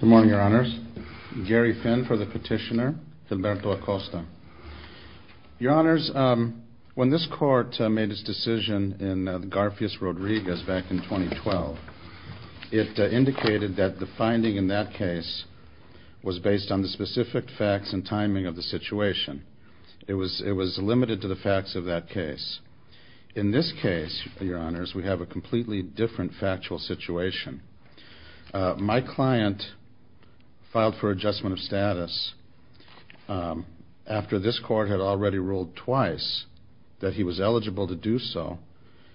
Good morning, Your Honors. Gary Finn for the petitioner, Gilberto Acosta. Your Honors, when this Court made its decision in Garfious-Rodriguez back in 2012, it indicated that the finding in that case was based on the specific facts and timing of the situation. It was limited to the facts of that case. In this case, Your Honors, we have a completely different factual situation. My client filed for adjustment of status after this Court had already ruled twice that he was eligible to do so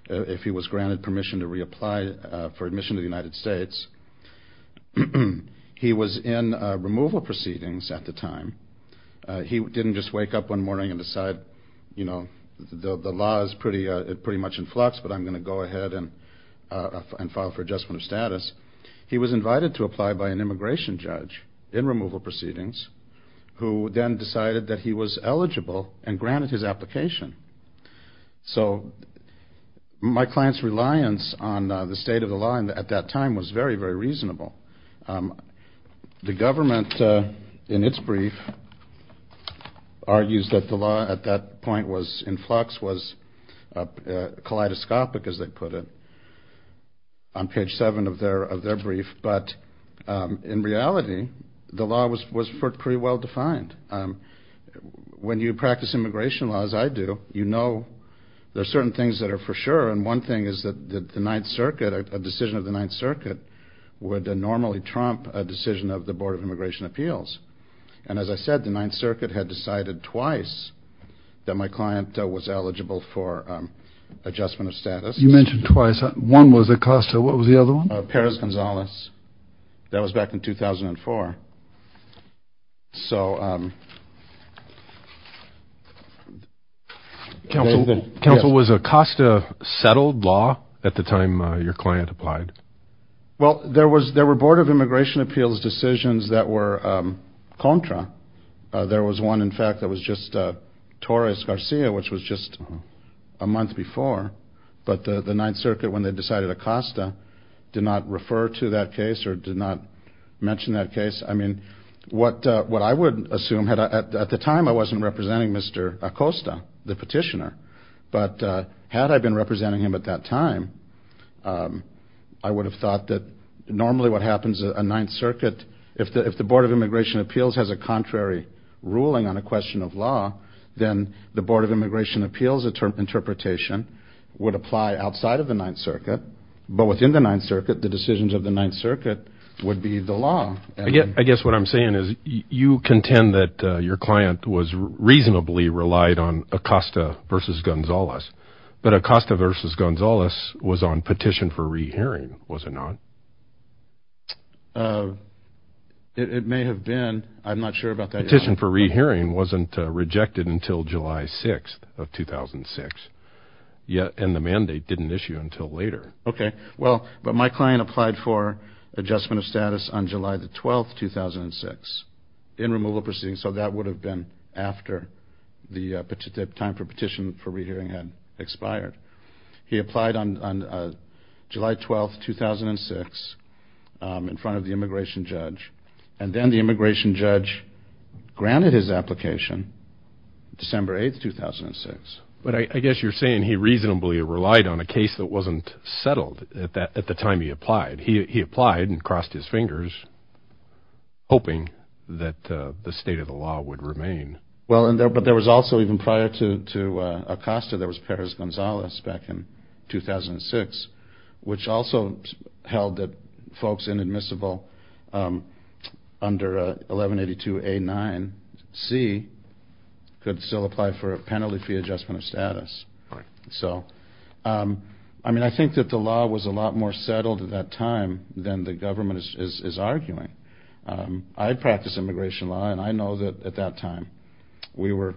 if he was granted permission to reapply for admission to the United States. He was in removal proceedings at the time. He didn't just wake up one morning and decide, you know, the law is pretty much in flux, but I'm going to go ahead and file for adjustment of status. He was invited to apply by an immigration judge in removal proceedings who then decided that he was eligible and granted his application. So my client's reliance on the state of the law at that time was very, very reasonable. The government, in its brief, argues that the law at that point was in flux, was kaleidoscopic, as they say on page seven of their brief, but in reality, the law was pretty well defined. When you practice immigration law, as I do, you know there are certain things that are for sure, and one thing is that the Ninth Circuit, a decision of the Ninth Circuit would normally trump a decision of the Board of Immigration Appeals. And as I said, the Ninth Circuit had decided twice that my client was eligible for adjustment of status. You mentioned twice. One was Acosta. What was the other one? Perez-Gonzalez. That was back in 2004. So... Counsel, was Acosta settled law at the time your client applied? Well, there were Board of Immigration Appeals decisions that were contra. There was one, in fact, that was just Torres-Garcia, which was just a month before, but the Ninth Circuit, when they decided Acosta, did not refer to that case or did not mention that case. What I would assume, at the time I wasn't representing Mr. Acosta, the petitioner, but had I been representing him at that time, I would have thought that normally what happens at a Ninth Circuit, if it's a question of law, then the Board of Immigration Appeals interpretation would apply outside of the Ninth Circuit, but within the Ninth Circuit, the decisions of the Ninth Circuit would be the law. I guess what I'm saying is you contend that your client was reasonably relied on Acosta versus Gonzalez, but Acosta versus Gonzalez was on petition for rehearing, was it not? It may have been. I'm not sure about that. The petition for rehearing wasn't rejected until July 6th of 2006, and the mandate didn't issue until later. Okay, well, but my client applied for adjustment of status on July 12th, 2006, in removal proceedings, so that would have been after the time for petition for rehearing had expired. He applied on July 12th, 2006, in front of the immigration judge, and then the immigration judge granted his application December 8th, 2006. But I guess you're saying he reasonably relied on a case that wasn't settled at the time he applied. He applied and crossed his fingers, hoping that the state of the law would remain. Well, but there was also even prior to Acosta, there was Perez-Gonzalez back in 2006, which also held that folks inadmissible under 1182A9C could still apply for a penalty fee adjustment of status. So I think that the law was a lot more settled at that time than the government is arguing. I practice immigration law, and I know that at that time we were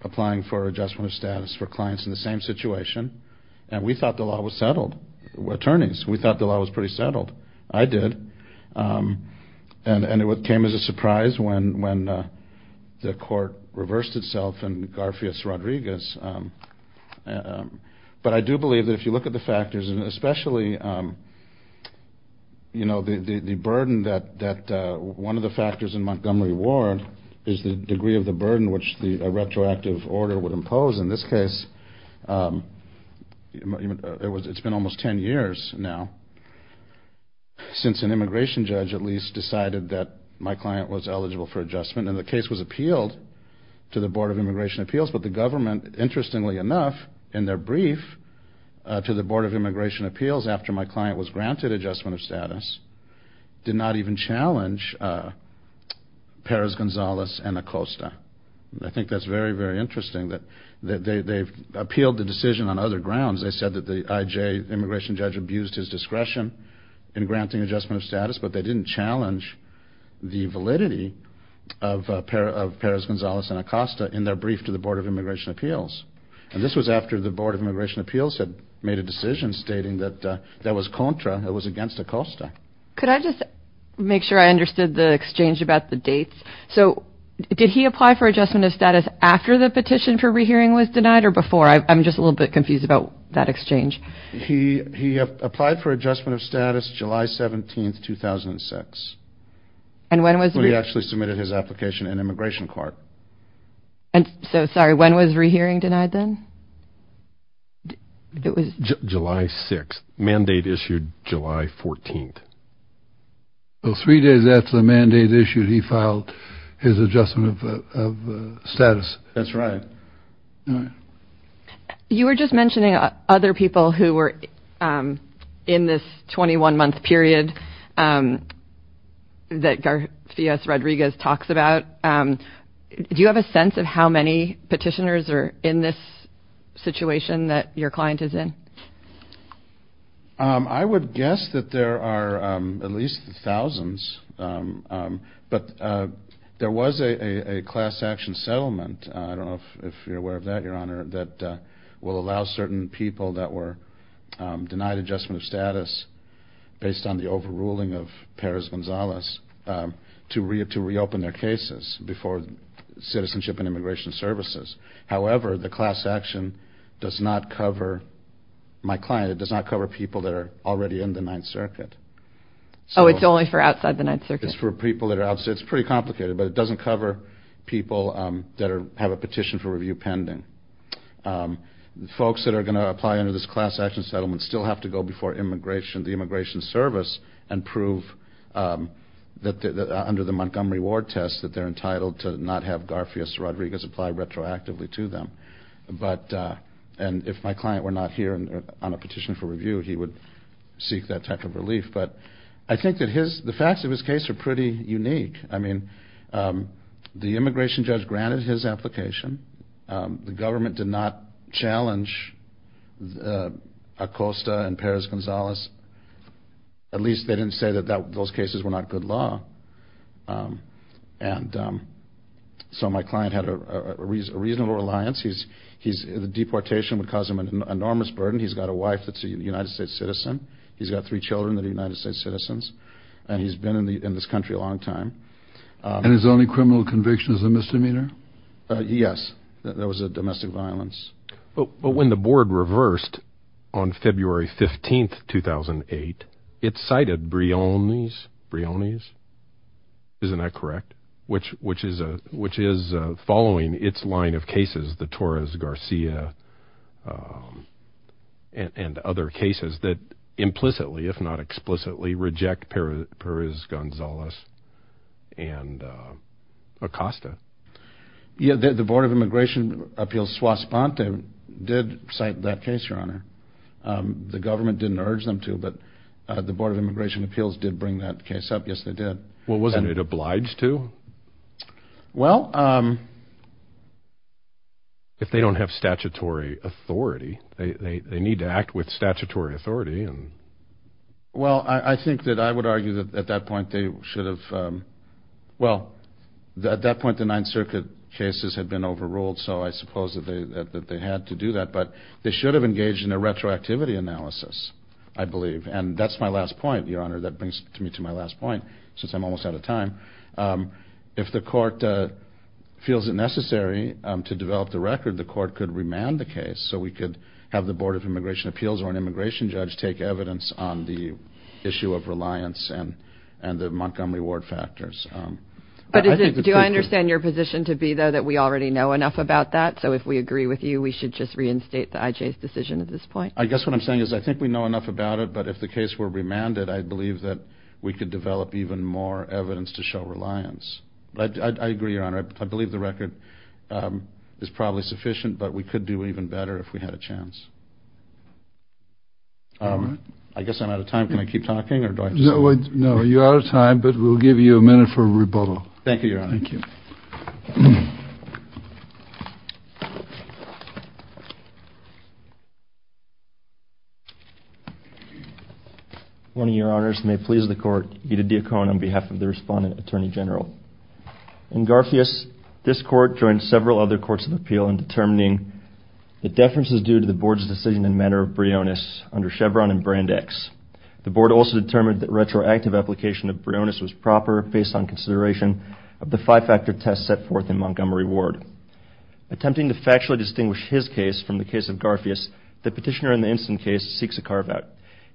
applying for adjustment of status for clients in the same situation, and we thought the law was settled. We're attorneys. We thought the law was pretty settled. I did. And it came as a surprise when the judge said that. But I do believe that if you look at the factors, and especially, you know, the burden that one of the factors in Montgomery Ward is the degree of the burden which the retroactive order would impose. In this case, it's been almost 10 years now since an immigration judge at least decided that my client was eligible for adjustment, and the case was appealed to the Board of Immigration Appeals. But the government, interestingly enough, in their brief to the Board of Immigration Appeals after my client was granted adjustment of status, did not even challenge Perez-Gonzalez and Acosta. I think that's very, very interesting that they've appealed the decision on other grounds. They said that the IJ immigration judge abused his discretion in granting adjustment of status, but they didn't challenge the validity of Perez-Gonzalez and Acosta in their brief to the Board of Immigration Appeals. And this was after the Board of Immigration Appeals had made a decision stating that that was contra. It was against Acosta. Could I just make sure I understood the exchange about the dates? So did he apply for adjustment of status after the petition for rehearing was denied or before? I'm just a little bit confused about that exchange. He applied for adjustment of status July 17th, 2006, when he actually submitted his application in immigration court. And so, sorry, when was rehearing denied then? It was July 6th. Mandate issued July 14th. So three days after the mandate issued, he filed his adjustment of status. That's right. You were just mentioning other people who were in this 21-month period that Garcias-Rodriguez talks about. Do you have a sense of how many petitioners are in this situation that your client is in? I would guess that there are at least thousands, but there was a class action settlement. I forgot your honor, that will allow certain people that were denied adjustment of status based on the overruling of Perez-Gonzalez to reopen their cases before Citizenship and Immigration Services. However, the class action does not cover my client. It does not cover people that are already in the Ninth Circuit. Oh, it's only for outside the Ninth Circuit? It's for people that are outside. It's pretty complicated, but it doesn't cover people that have a petition for review pending. Folks that are going to apply under this class action settlement still have to go before the Immigration Service and prove under the Montgomery Ward test that they're entitled to not have Garcias-Rodriguez apply retroactively to them. And if my client were not here on a petition for review, he would seek that type of relief. But I think that the facts of his case are pretty unique. I mean, the immigration judge granted his application. The government did not challenge Acosta and Perez-Gonzalez. At least they didn't say that those cases were not good law. And so my client had a reasonable reliance. The deportation would cause him an enormous burden. He's got a wife that's a United States citizen. He's got three children that are United States citizens. And he's been in this country a long time. And his only criminal conviction is a misdemeanor? Yes. That was a domestic violence. But when the board reversed on February 15th, 2008, it cited Briones. Isn't that correct? Which is following its line of cases, the Torres-Garcia and other cases that implicitly, if not explicitly, reject Perez-Gonzalez and Acosta. Yeah, the Board of Immigration Appeals Suas-Ponte did cite that case, Your Honor. The government didn't urge them to, but the Board of Immigration Appeals did bring that case up. Yes, they did. Well, wasn't it obliged to? Well... If they don't have statutory authority, they need to act with statutory authority. Well, I think that I would argue that at that point they should have... Well, at that point the Ninth Circuit cases had been overruled, so I suppose that they had to do that. But they should have engaged in a retroactivity analysis, I believe. And that's my last point, Your Honor. That brings me to my last point, since I'm almost out of time. If the court feels it necessary to develop the record, the court could remand the case so we could have the Board of Immigration Appeals or an immigration judge take evidence on the issue of reliance and the Montgomery Ward factors. Do I understand your position to be, though, that we already know enough about that? So if we agree with you, we should just reinstate the IJ's decision at this point? I guess what I'm saying is I think we know enough about it, but if the case were remanded, I believe that we could develop even more evidence to show reliance. I agree, Your Honor. I believe the record is probably sufficient, but we could do even better if we had a chance. All right. I guess I'm out of time. Can I keep talking, or do I just... No, you're out of time, but we'll give you a minute for rebuttal. Thank you, Your Honor. Thank you. One of Your Honors, it may please the Court, Ida Diacon on behalf of the Respondent Attorney General. In Garfious, this Court joined several other courts of appeal in determining the deferences due to the Board's decision in matter of Brionis under Chevron and Brand X. The Board also determined that retroactive application of Brionis was proper based on consideration of the five-factor test set forth in Montgomery Ward. Attempting to factually distinguish his case from the case of Garfious, the petitioner in the instant case seeks a carve-out.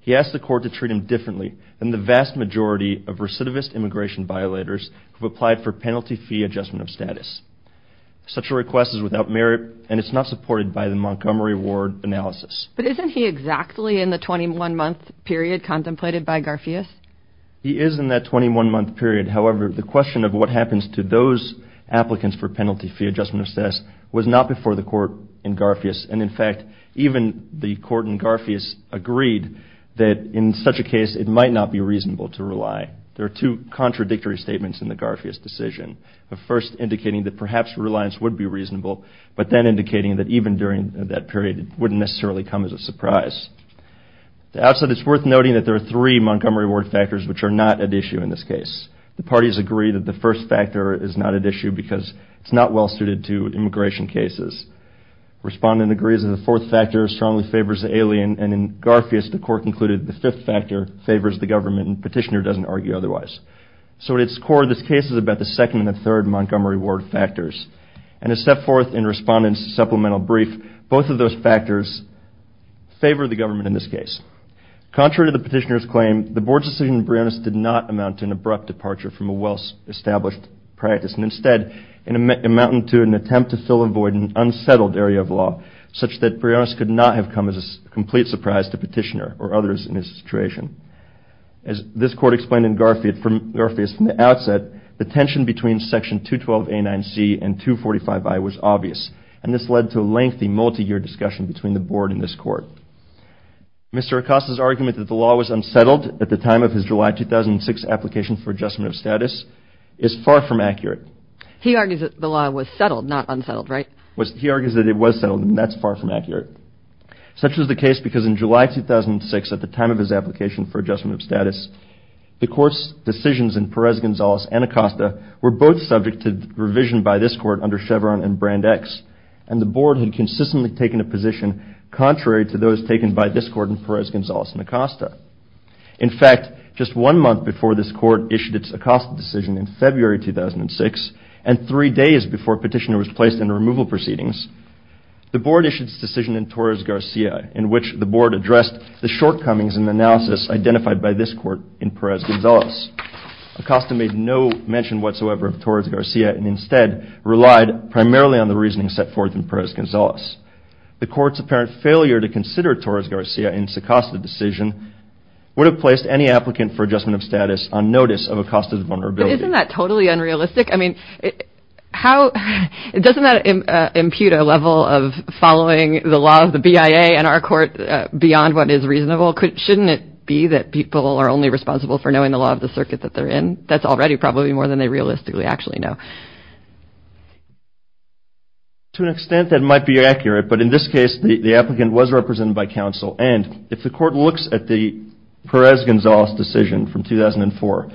He asks the Court to treat him differently than the vast majority of recidivist immigration violators who applied for penalty fee adjustment of status. Such a request is without merit, and it's not supported by the Montgomery Ward analysis. But isn't he exactly in the 21-month period contemplated by Garfious? He is in that 21-month period. However, the question of what happens to those applicants for penalty fee adjustment of status was not before the Court in Garfious. And, in fact, even the Court in Garfious agreed that in such a case it might not be reasonable to rely. There are two contradictory statements in the Garfious decision, the first indicating that perhaps reliance would be reasonable, but then indicating that even during that period it wouldn't necessarily come as a surprise. To answer this, it's worth noting that there are three Montgomery Ward factors which are not at issue in this case. The parties agree that the first factor is not at issue because it's not well suited to immigration cases. Respondent agrees that the fourth factor strongly favors the alien, and in Garfious the Court concluded that the fifth factor favors the government, and the petitioner doesn't argue otherwise. So, at its core, this case is about the second and the third Montgomery Ward factors. And as set forth in Respondent's supplemental brief, both of those factors favor the government in this case. Contrary to the petitioner's claim, the Board's decision in Briannus did not amount to an abrupt departure from a well-established practice, and instead amounted to an attempt to fill a void in an unsettled area of law, such that Briannus could not have come as a complete surprise to the petitioner or others in his situation. As this Court explained in Garfious from the outset, the tension between Section 212A9C and 245I was obvious, and this led to a lengthy, multi-year discussion between the Board and this Court. Mr. Acosta's argument that the law was unsettled at the time of his July 2006 application for adjustment of status is far from accurate. He argues that the law was settled, not unsettled, right? He argues that it was settled, and that's far from accurate. Such was the case because in July 2006, at the time of his application for adjustment of status, the Court's decisions in Perez-Gonzalez and Acosta were both subject to revision by this Court under Chevron and Brand X, and the Board had consistently taken a position contrary to those taken by this Court in Perez-Gonzalez and Acosta. In fact, just one month before this Court issued its Acosta decision in February 2006, and three days before a petitioner was placed in removal proceedings, the Board issued its decision in Torres-Garcia, in which the Board addressed the shortcomings in the analysis identified by this Court in Perez-Gonzalez. Acosta made no mention whatsoever of Torres-Garcia and instead relied primarily on the reasoning set forth in Perez-Gonzalez. The Court's apparent failure to consider Torres-Garcia in its Acosta decision would have placed any applicant for adjustment of status on notice of Acosta's vulnerability. But isn't that totally unrealistic? I mean, doesn't that impute a level of following the law of the BIA and our Court beyond what is reasonable? Shouldn't it be that people are only responsible for knowing the law of the circuit that they're in? That's already probably more than they realistically actually know. To an extent, that might be accurate. But in this case, the applicant was represented by counsel. And if the Court looks at the Perez-Gonzalez decision from 2004,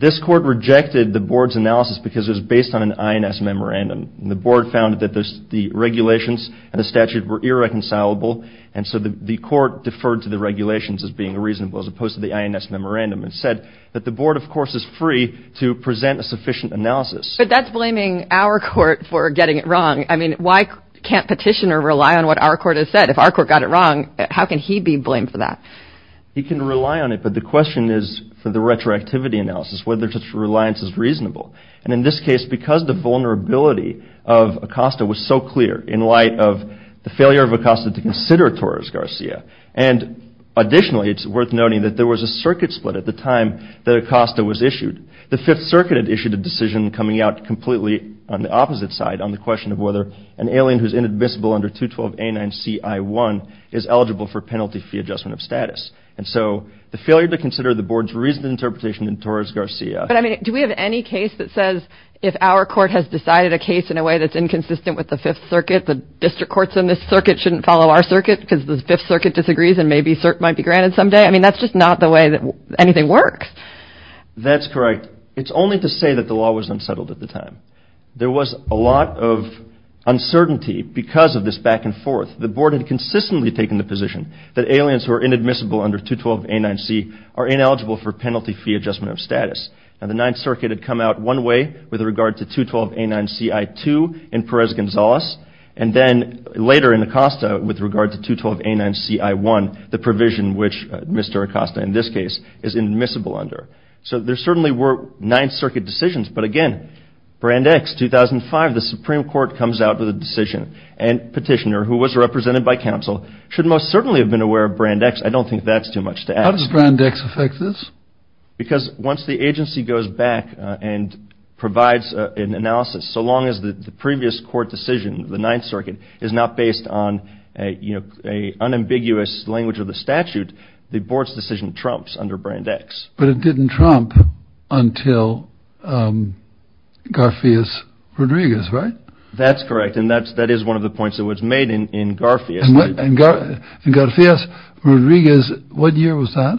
this Court rejected the Board's analysis because it was based on an INS memorandum. And the Board found that the regulations and the statute were irreconcilable, and so the Court deferred to the regulations as being reasonable as opposed to the INS memorandum and said that the Board, of course, is free to present a sufficient analysis. But that's blaming our Court for getting it wrong. I mean, why can't Petitioner rely on what our Court has said? If our Court got it wrong, how can he be blamed for that? He can rely on it, but the question is, for the retroactivity analysis, whether such reliance is reasonable. And in this case, because the vulnerability of Acosta was so clear in light of the failure of Acosta to consider Torres-Garcia. And additionally, it's worth noting that there was a circuit split at the time that Acosta was issued. The Fifth Circuit had issued a decision coming out completely on the opposite side on the question of whether an alien who's inadmissible under 212A9CI1 is eligible for penalty fee adjustment of status. And so the failure to consider the Board's reasoned interpretation in Torres-Garcia. But, I mean, do we have any case that says if our Court has decided a case in a way that's inconsistent with the Fifth Circuit, the district courts in this circuit shouldn't follow our circuit because the Fifth Circuit disagrees and maybe cert might be granted someday? I mean, that's just not the way that anything works. That's correct. It's only to say that the law was unsettled at the time. There was a lot of uncertainty because of this back and forth. The Board had consistently taken the position that aliens who are inadmissible under 212A9C are ineligible for penalty fee adjustment of status. Now, the Ninth Circuit had come out one way with regard to 212A9CI2 in Perez-Gonzalez, and then later in Acosta with regard to 212A9CI1, the provision which Mr. Acosta in this case is inadmissible under. So there certainly were Ninth Circuit decisions. But again, Brand X, 2005, the Supreme Court comes out with a decision. And Petitioner, who was represented by counsel, should most certainly have been aware of Brand X. I don't think that's too much to ask. How does Brand X affect this? Because once the agency goes back and provides an analysis, so long as the previous court decision, the Ninth Circuit, is not based on an unambiguous language of the statute, the Board's decision trumps under Brand X. But it didn't trump until Garfias-Rodriguez, right? That's correct. And that is one of the points that was made in Garfias. And Garfias-Rodriguez, what year was that?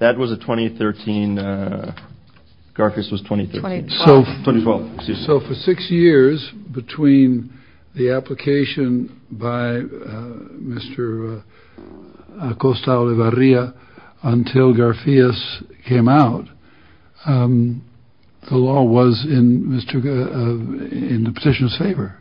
That was 2013. Garfias was 2013. 2012. So for six years between the application by Mr. Acosta-Olivarria until Garfias came out, the law was in the petitioner's favor.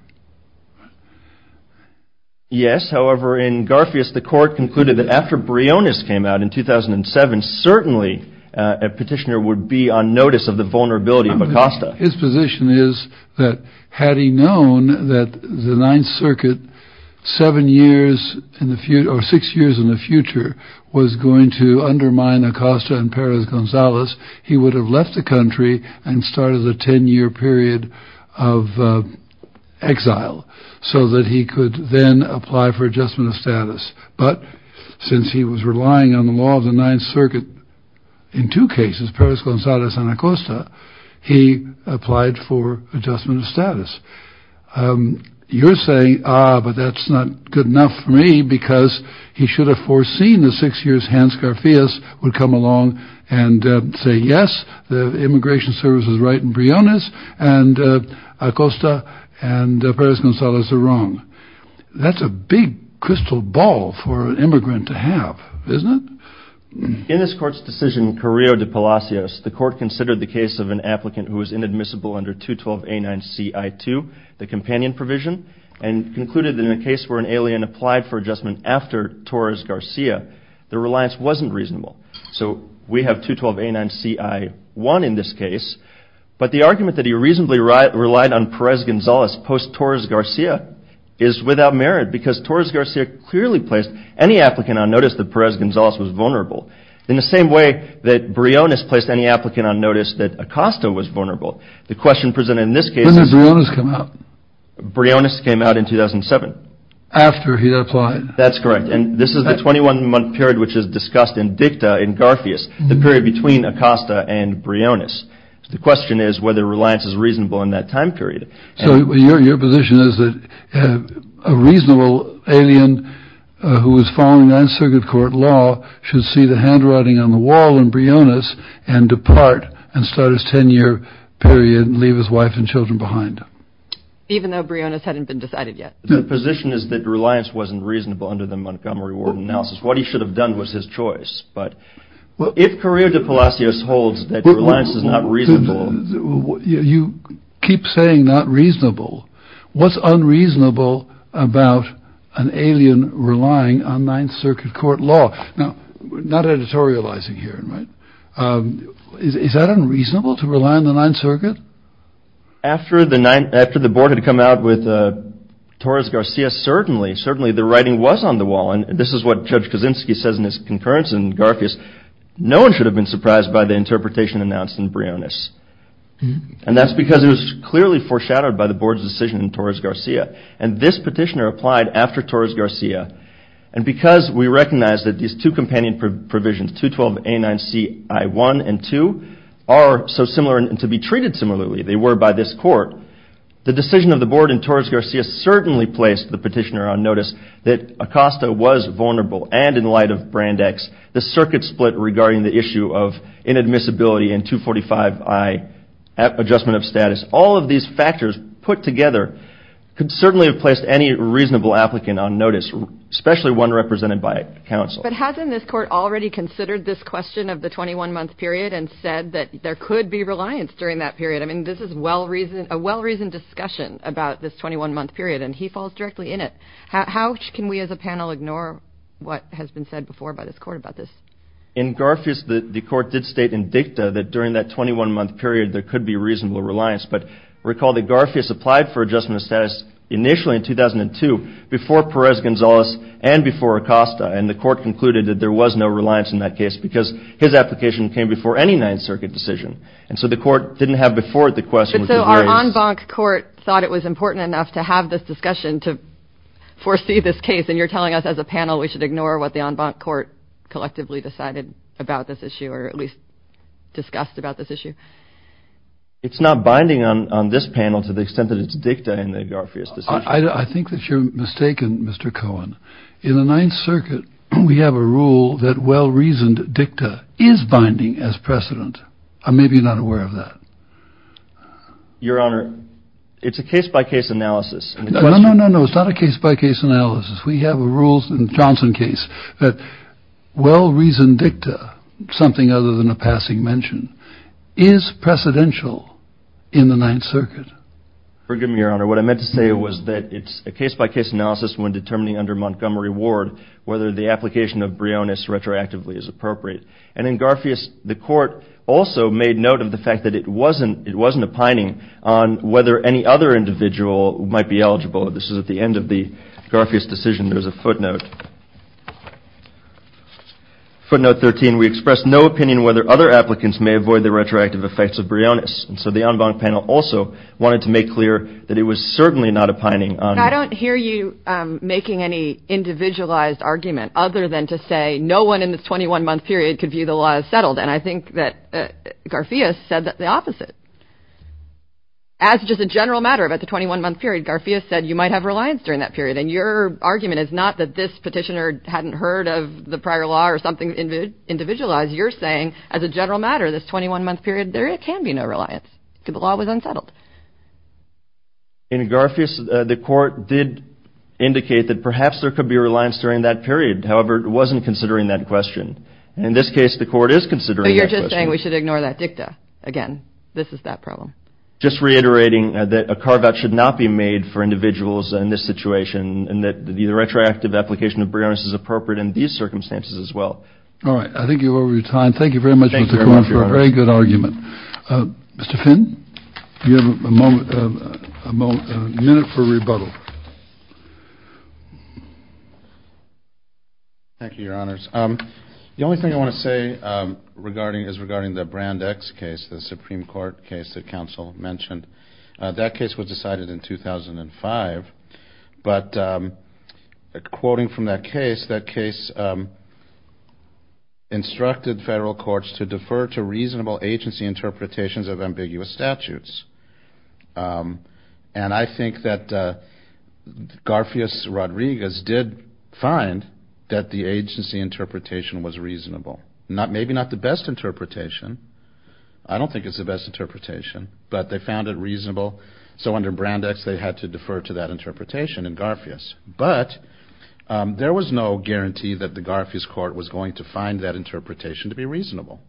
Yes. However, in Garfias, the court concluded that after Briones came out in 2007, certainly a petitioner would be on notice of the vulnerability of Acosta. His position is that had he known that the Ninth Circuit, seven years in the future, or six years in the future, was going to undermine Acosta and Perez-Gonzalez, he would have left the country and started a 10-year period of exile so that he could then apply for adjustment of status. But since he was relying on the law of the Ninth Circuit in two cases, Perez-Gonzalez and Acosta, he applied for adjustment of status. You're saying, ah, but that's not good enough for me because he should have foreseen the six years that Hans Garfias would come along and say, yes, the Immigration Service is right in Briones, and Acosta and Perez-Gonzalez are wrong. That's a big crystal ball for an immigrant to have, isn't it? In this court's decision, Carrillo de Palacios, the court considered the case of an applicant who was inadmissible under 212A9CI2, the companion provision, and concluded that in a case where an alien applied for adjustment after Torres-Garcia, the reliance wasn't reasonable. So we have 212A9CI1 in this case, but the argument that he reasonably relied on Perez-Gonzalez post-Torres-Garcia is without merit, because Torres-Garcia clearly placed any applicant on notice that Perez-Gonzalez was vulnerable, in the same way that Briones placed any applicant on notice that Acosta was vulnerable. The question presented in this case is... This is a period which is discussed in dicta in Garfias, the period between Acosta and Briones. The question is whether reliance is reasonable in that time period. So your position is that a reasonable alien who is following 9th Circuit Court law should see the handwriting on the wall in Briones and depart and start his 10-year period and leave his wife and children behind? Even though Briones hadn't been decided yet. The position is that reliance wasn't reasonable under the Montgomery Warden analysis. What he should have done was his choice, but if Correo de Palacios holds that reliance is not reasonable... You keep saying not reasonable. What's unreasonable about an alien relying on 9th Circuit Court law? Not editorializing here. Is that unreasonable to rely on the 9th Circuit? After the board had come out with Torres-Garcia, certainly the writing was on the wall. This is what Judge Kaczynski says in his concurrence in Garfias. No one should have been surprised by the interpretation announced in Briones. And that's because it was clearly foreshadowed by the board's decision in Torres-Garcia. And this petitioner applied after Torres-Garcia. And because we recognize that these two companion provisions, 212A9CI1 and 2, are so similar and to be treated similarly, they were by this court, the decision of the board in Torres-Garcia certainly placed the petitioner on notice that Acosta was vulnerable. And in light of Brandeis, the circuit split regarding the issue of inadmissibility and 245I, adjustment of status, all of these factors put together could certainly have placed any reasonable applicant on notice, especially one represented by counsel. But hasn't this court already considered this question of the 21-month period and said that there could be reliance during that period? I mean, this is a well-reasoned discussion about this 21-month period, and he falls directly in it. How can we as a panel ignore what has been said before by this court about this? In Garfias, the court did state in dicta that during that 21-month period there could be reasonable reliance. But recall that Garfias applied for adjustment of status initially in 2002 before Perez-Gonzalez and before Acosta, and the court concluded that there was no reliance in that case because his application came before any Ninth Circuit decision. And so the court didn't have before it the question. So our en banc court thought it was important enough to have this discussion to foresee this case, and you're telling us as a panel we should ignore what the en banc court collectively decided about this issue or at least discussed about this issue? It's not binding on this panel to the extent that it's dicta in the Garfias decision. I think that you're mistaken, Mr. Cohen. In the Ninth Circuit, we have a rule that well-reasoned dicta is binding as precedent. I may be not aware of that. Your Honor, it's a case-by-case analysis. No, no, no, no. It's not a case-by-case analysis. We have rules in the Johnson case that well-reasoned dicta, something other than a passing mention, is precedential in the Ninth Circuit. Forgive me, Your Honor. What I meant to say was that it's a case-by-case analysis when determining under Montgomery Ward whether the application of bryonis retroactively is appropriate. And in Garfias, the court also made note of the fact that it wasn't a pining on whether any other individual might be eligible. This is at the end of the Garfias decision. There's a footnote. Footnote 13, we expressed no opinion whether other applicants may avoid the retroactive effects of bryonis. And so the en banc panel also wanted to make clear that it was certainly not a pining on. I don't hear you making any individualized argument other than to say no one in the 21-month period could view the law as settled. And I think that Garfias said the opposite. As just a general matter about the 21-month period, Garfias said you might have reliance during that period. And your argument is not that this petitioner hadn't heard of the prior law or something individualized. As you're saying, as a general matter, this 21-month period, there can be no reliance because the law was unsettled. In Garfias, the court did indicate that perhaps there could be reliance during that period. However, it wasn't considering that question. In this case, the court is considering that question. But you're just saying we should ignore that dicta. Again, this is that problem. Just reiterating that a carve-out should not be made for individuals in this situation and that the retroactive application of bryonis is appropriate in these circumstances as well. All right. I think you're over your time. Thank you very much, Mr. Cohen, for a very good argument. Mr. Finn, you have a minute for rebuttal. Thank you, Your Honors. The only thing I want to say is regarding the Brand X case, the Supreme Court case that counsel mentioned. That case was decided in 2005. But quoting from that case, that case instructed federal courts to defer to reasonable agency interpretations of ambiguous statutes. And I think that Garfias-Rodriguez did find that the agency interpretation was reasonable. Maybe not the best interpretation. I don't think it's the best interpretation. But they found it reasonable. So under Brand X, they had to defer to that interpretation in Garfias. But there was no guarantee that the Garfias court was going to find that interpretation to be reasonable.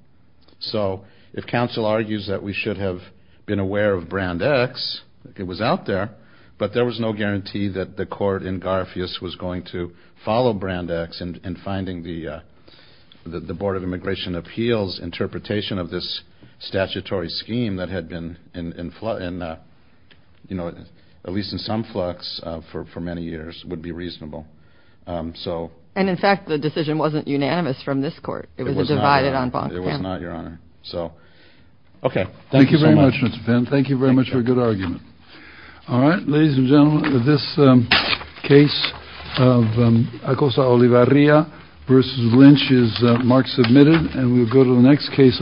So if counsel argues that we should have been aware of Brand X, it was out there. But there was no guarantee that the court in Garfias was going to follow Brand X in finding the Board of Immigration Appeals interpretation of this statutory scheme that had been, at least in some flux for many years, would be reasonable. And, in fact, the decision wasn't unanimous from this court. It was divided on Bonk-Finn. It was not, Your Honor. Thank you very much, Mr. Finn. Thank you very much for a good argument. All right. Ladies and gentlemen, this case of Acosta-Olivarria versus Lynch is mark submitted. And we'll go to the next case.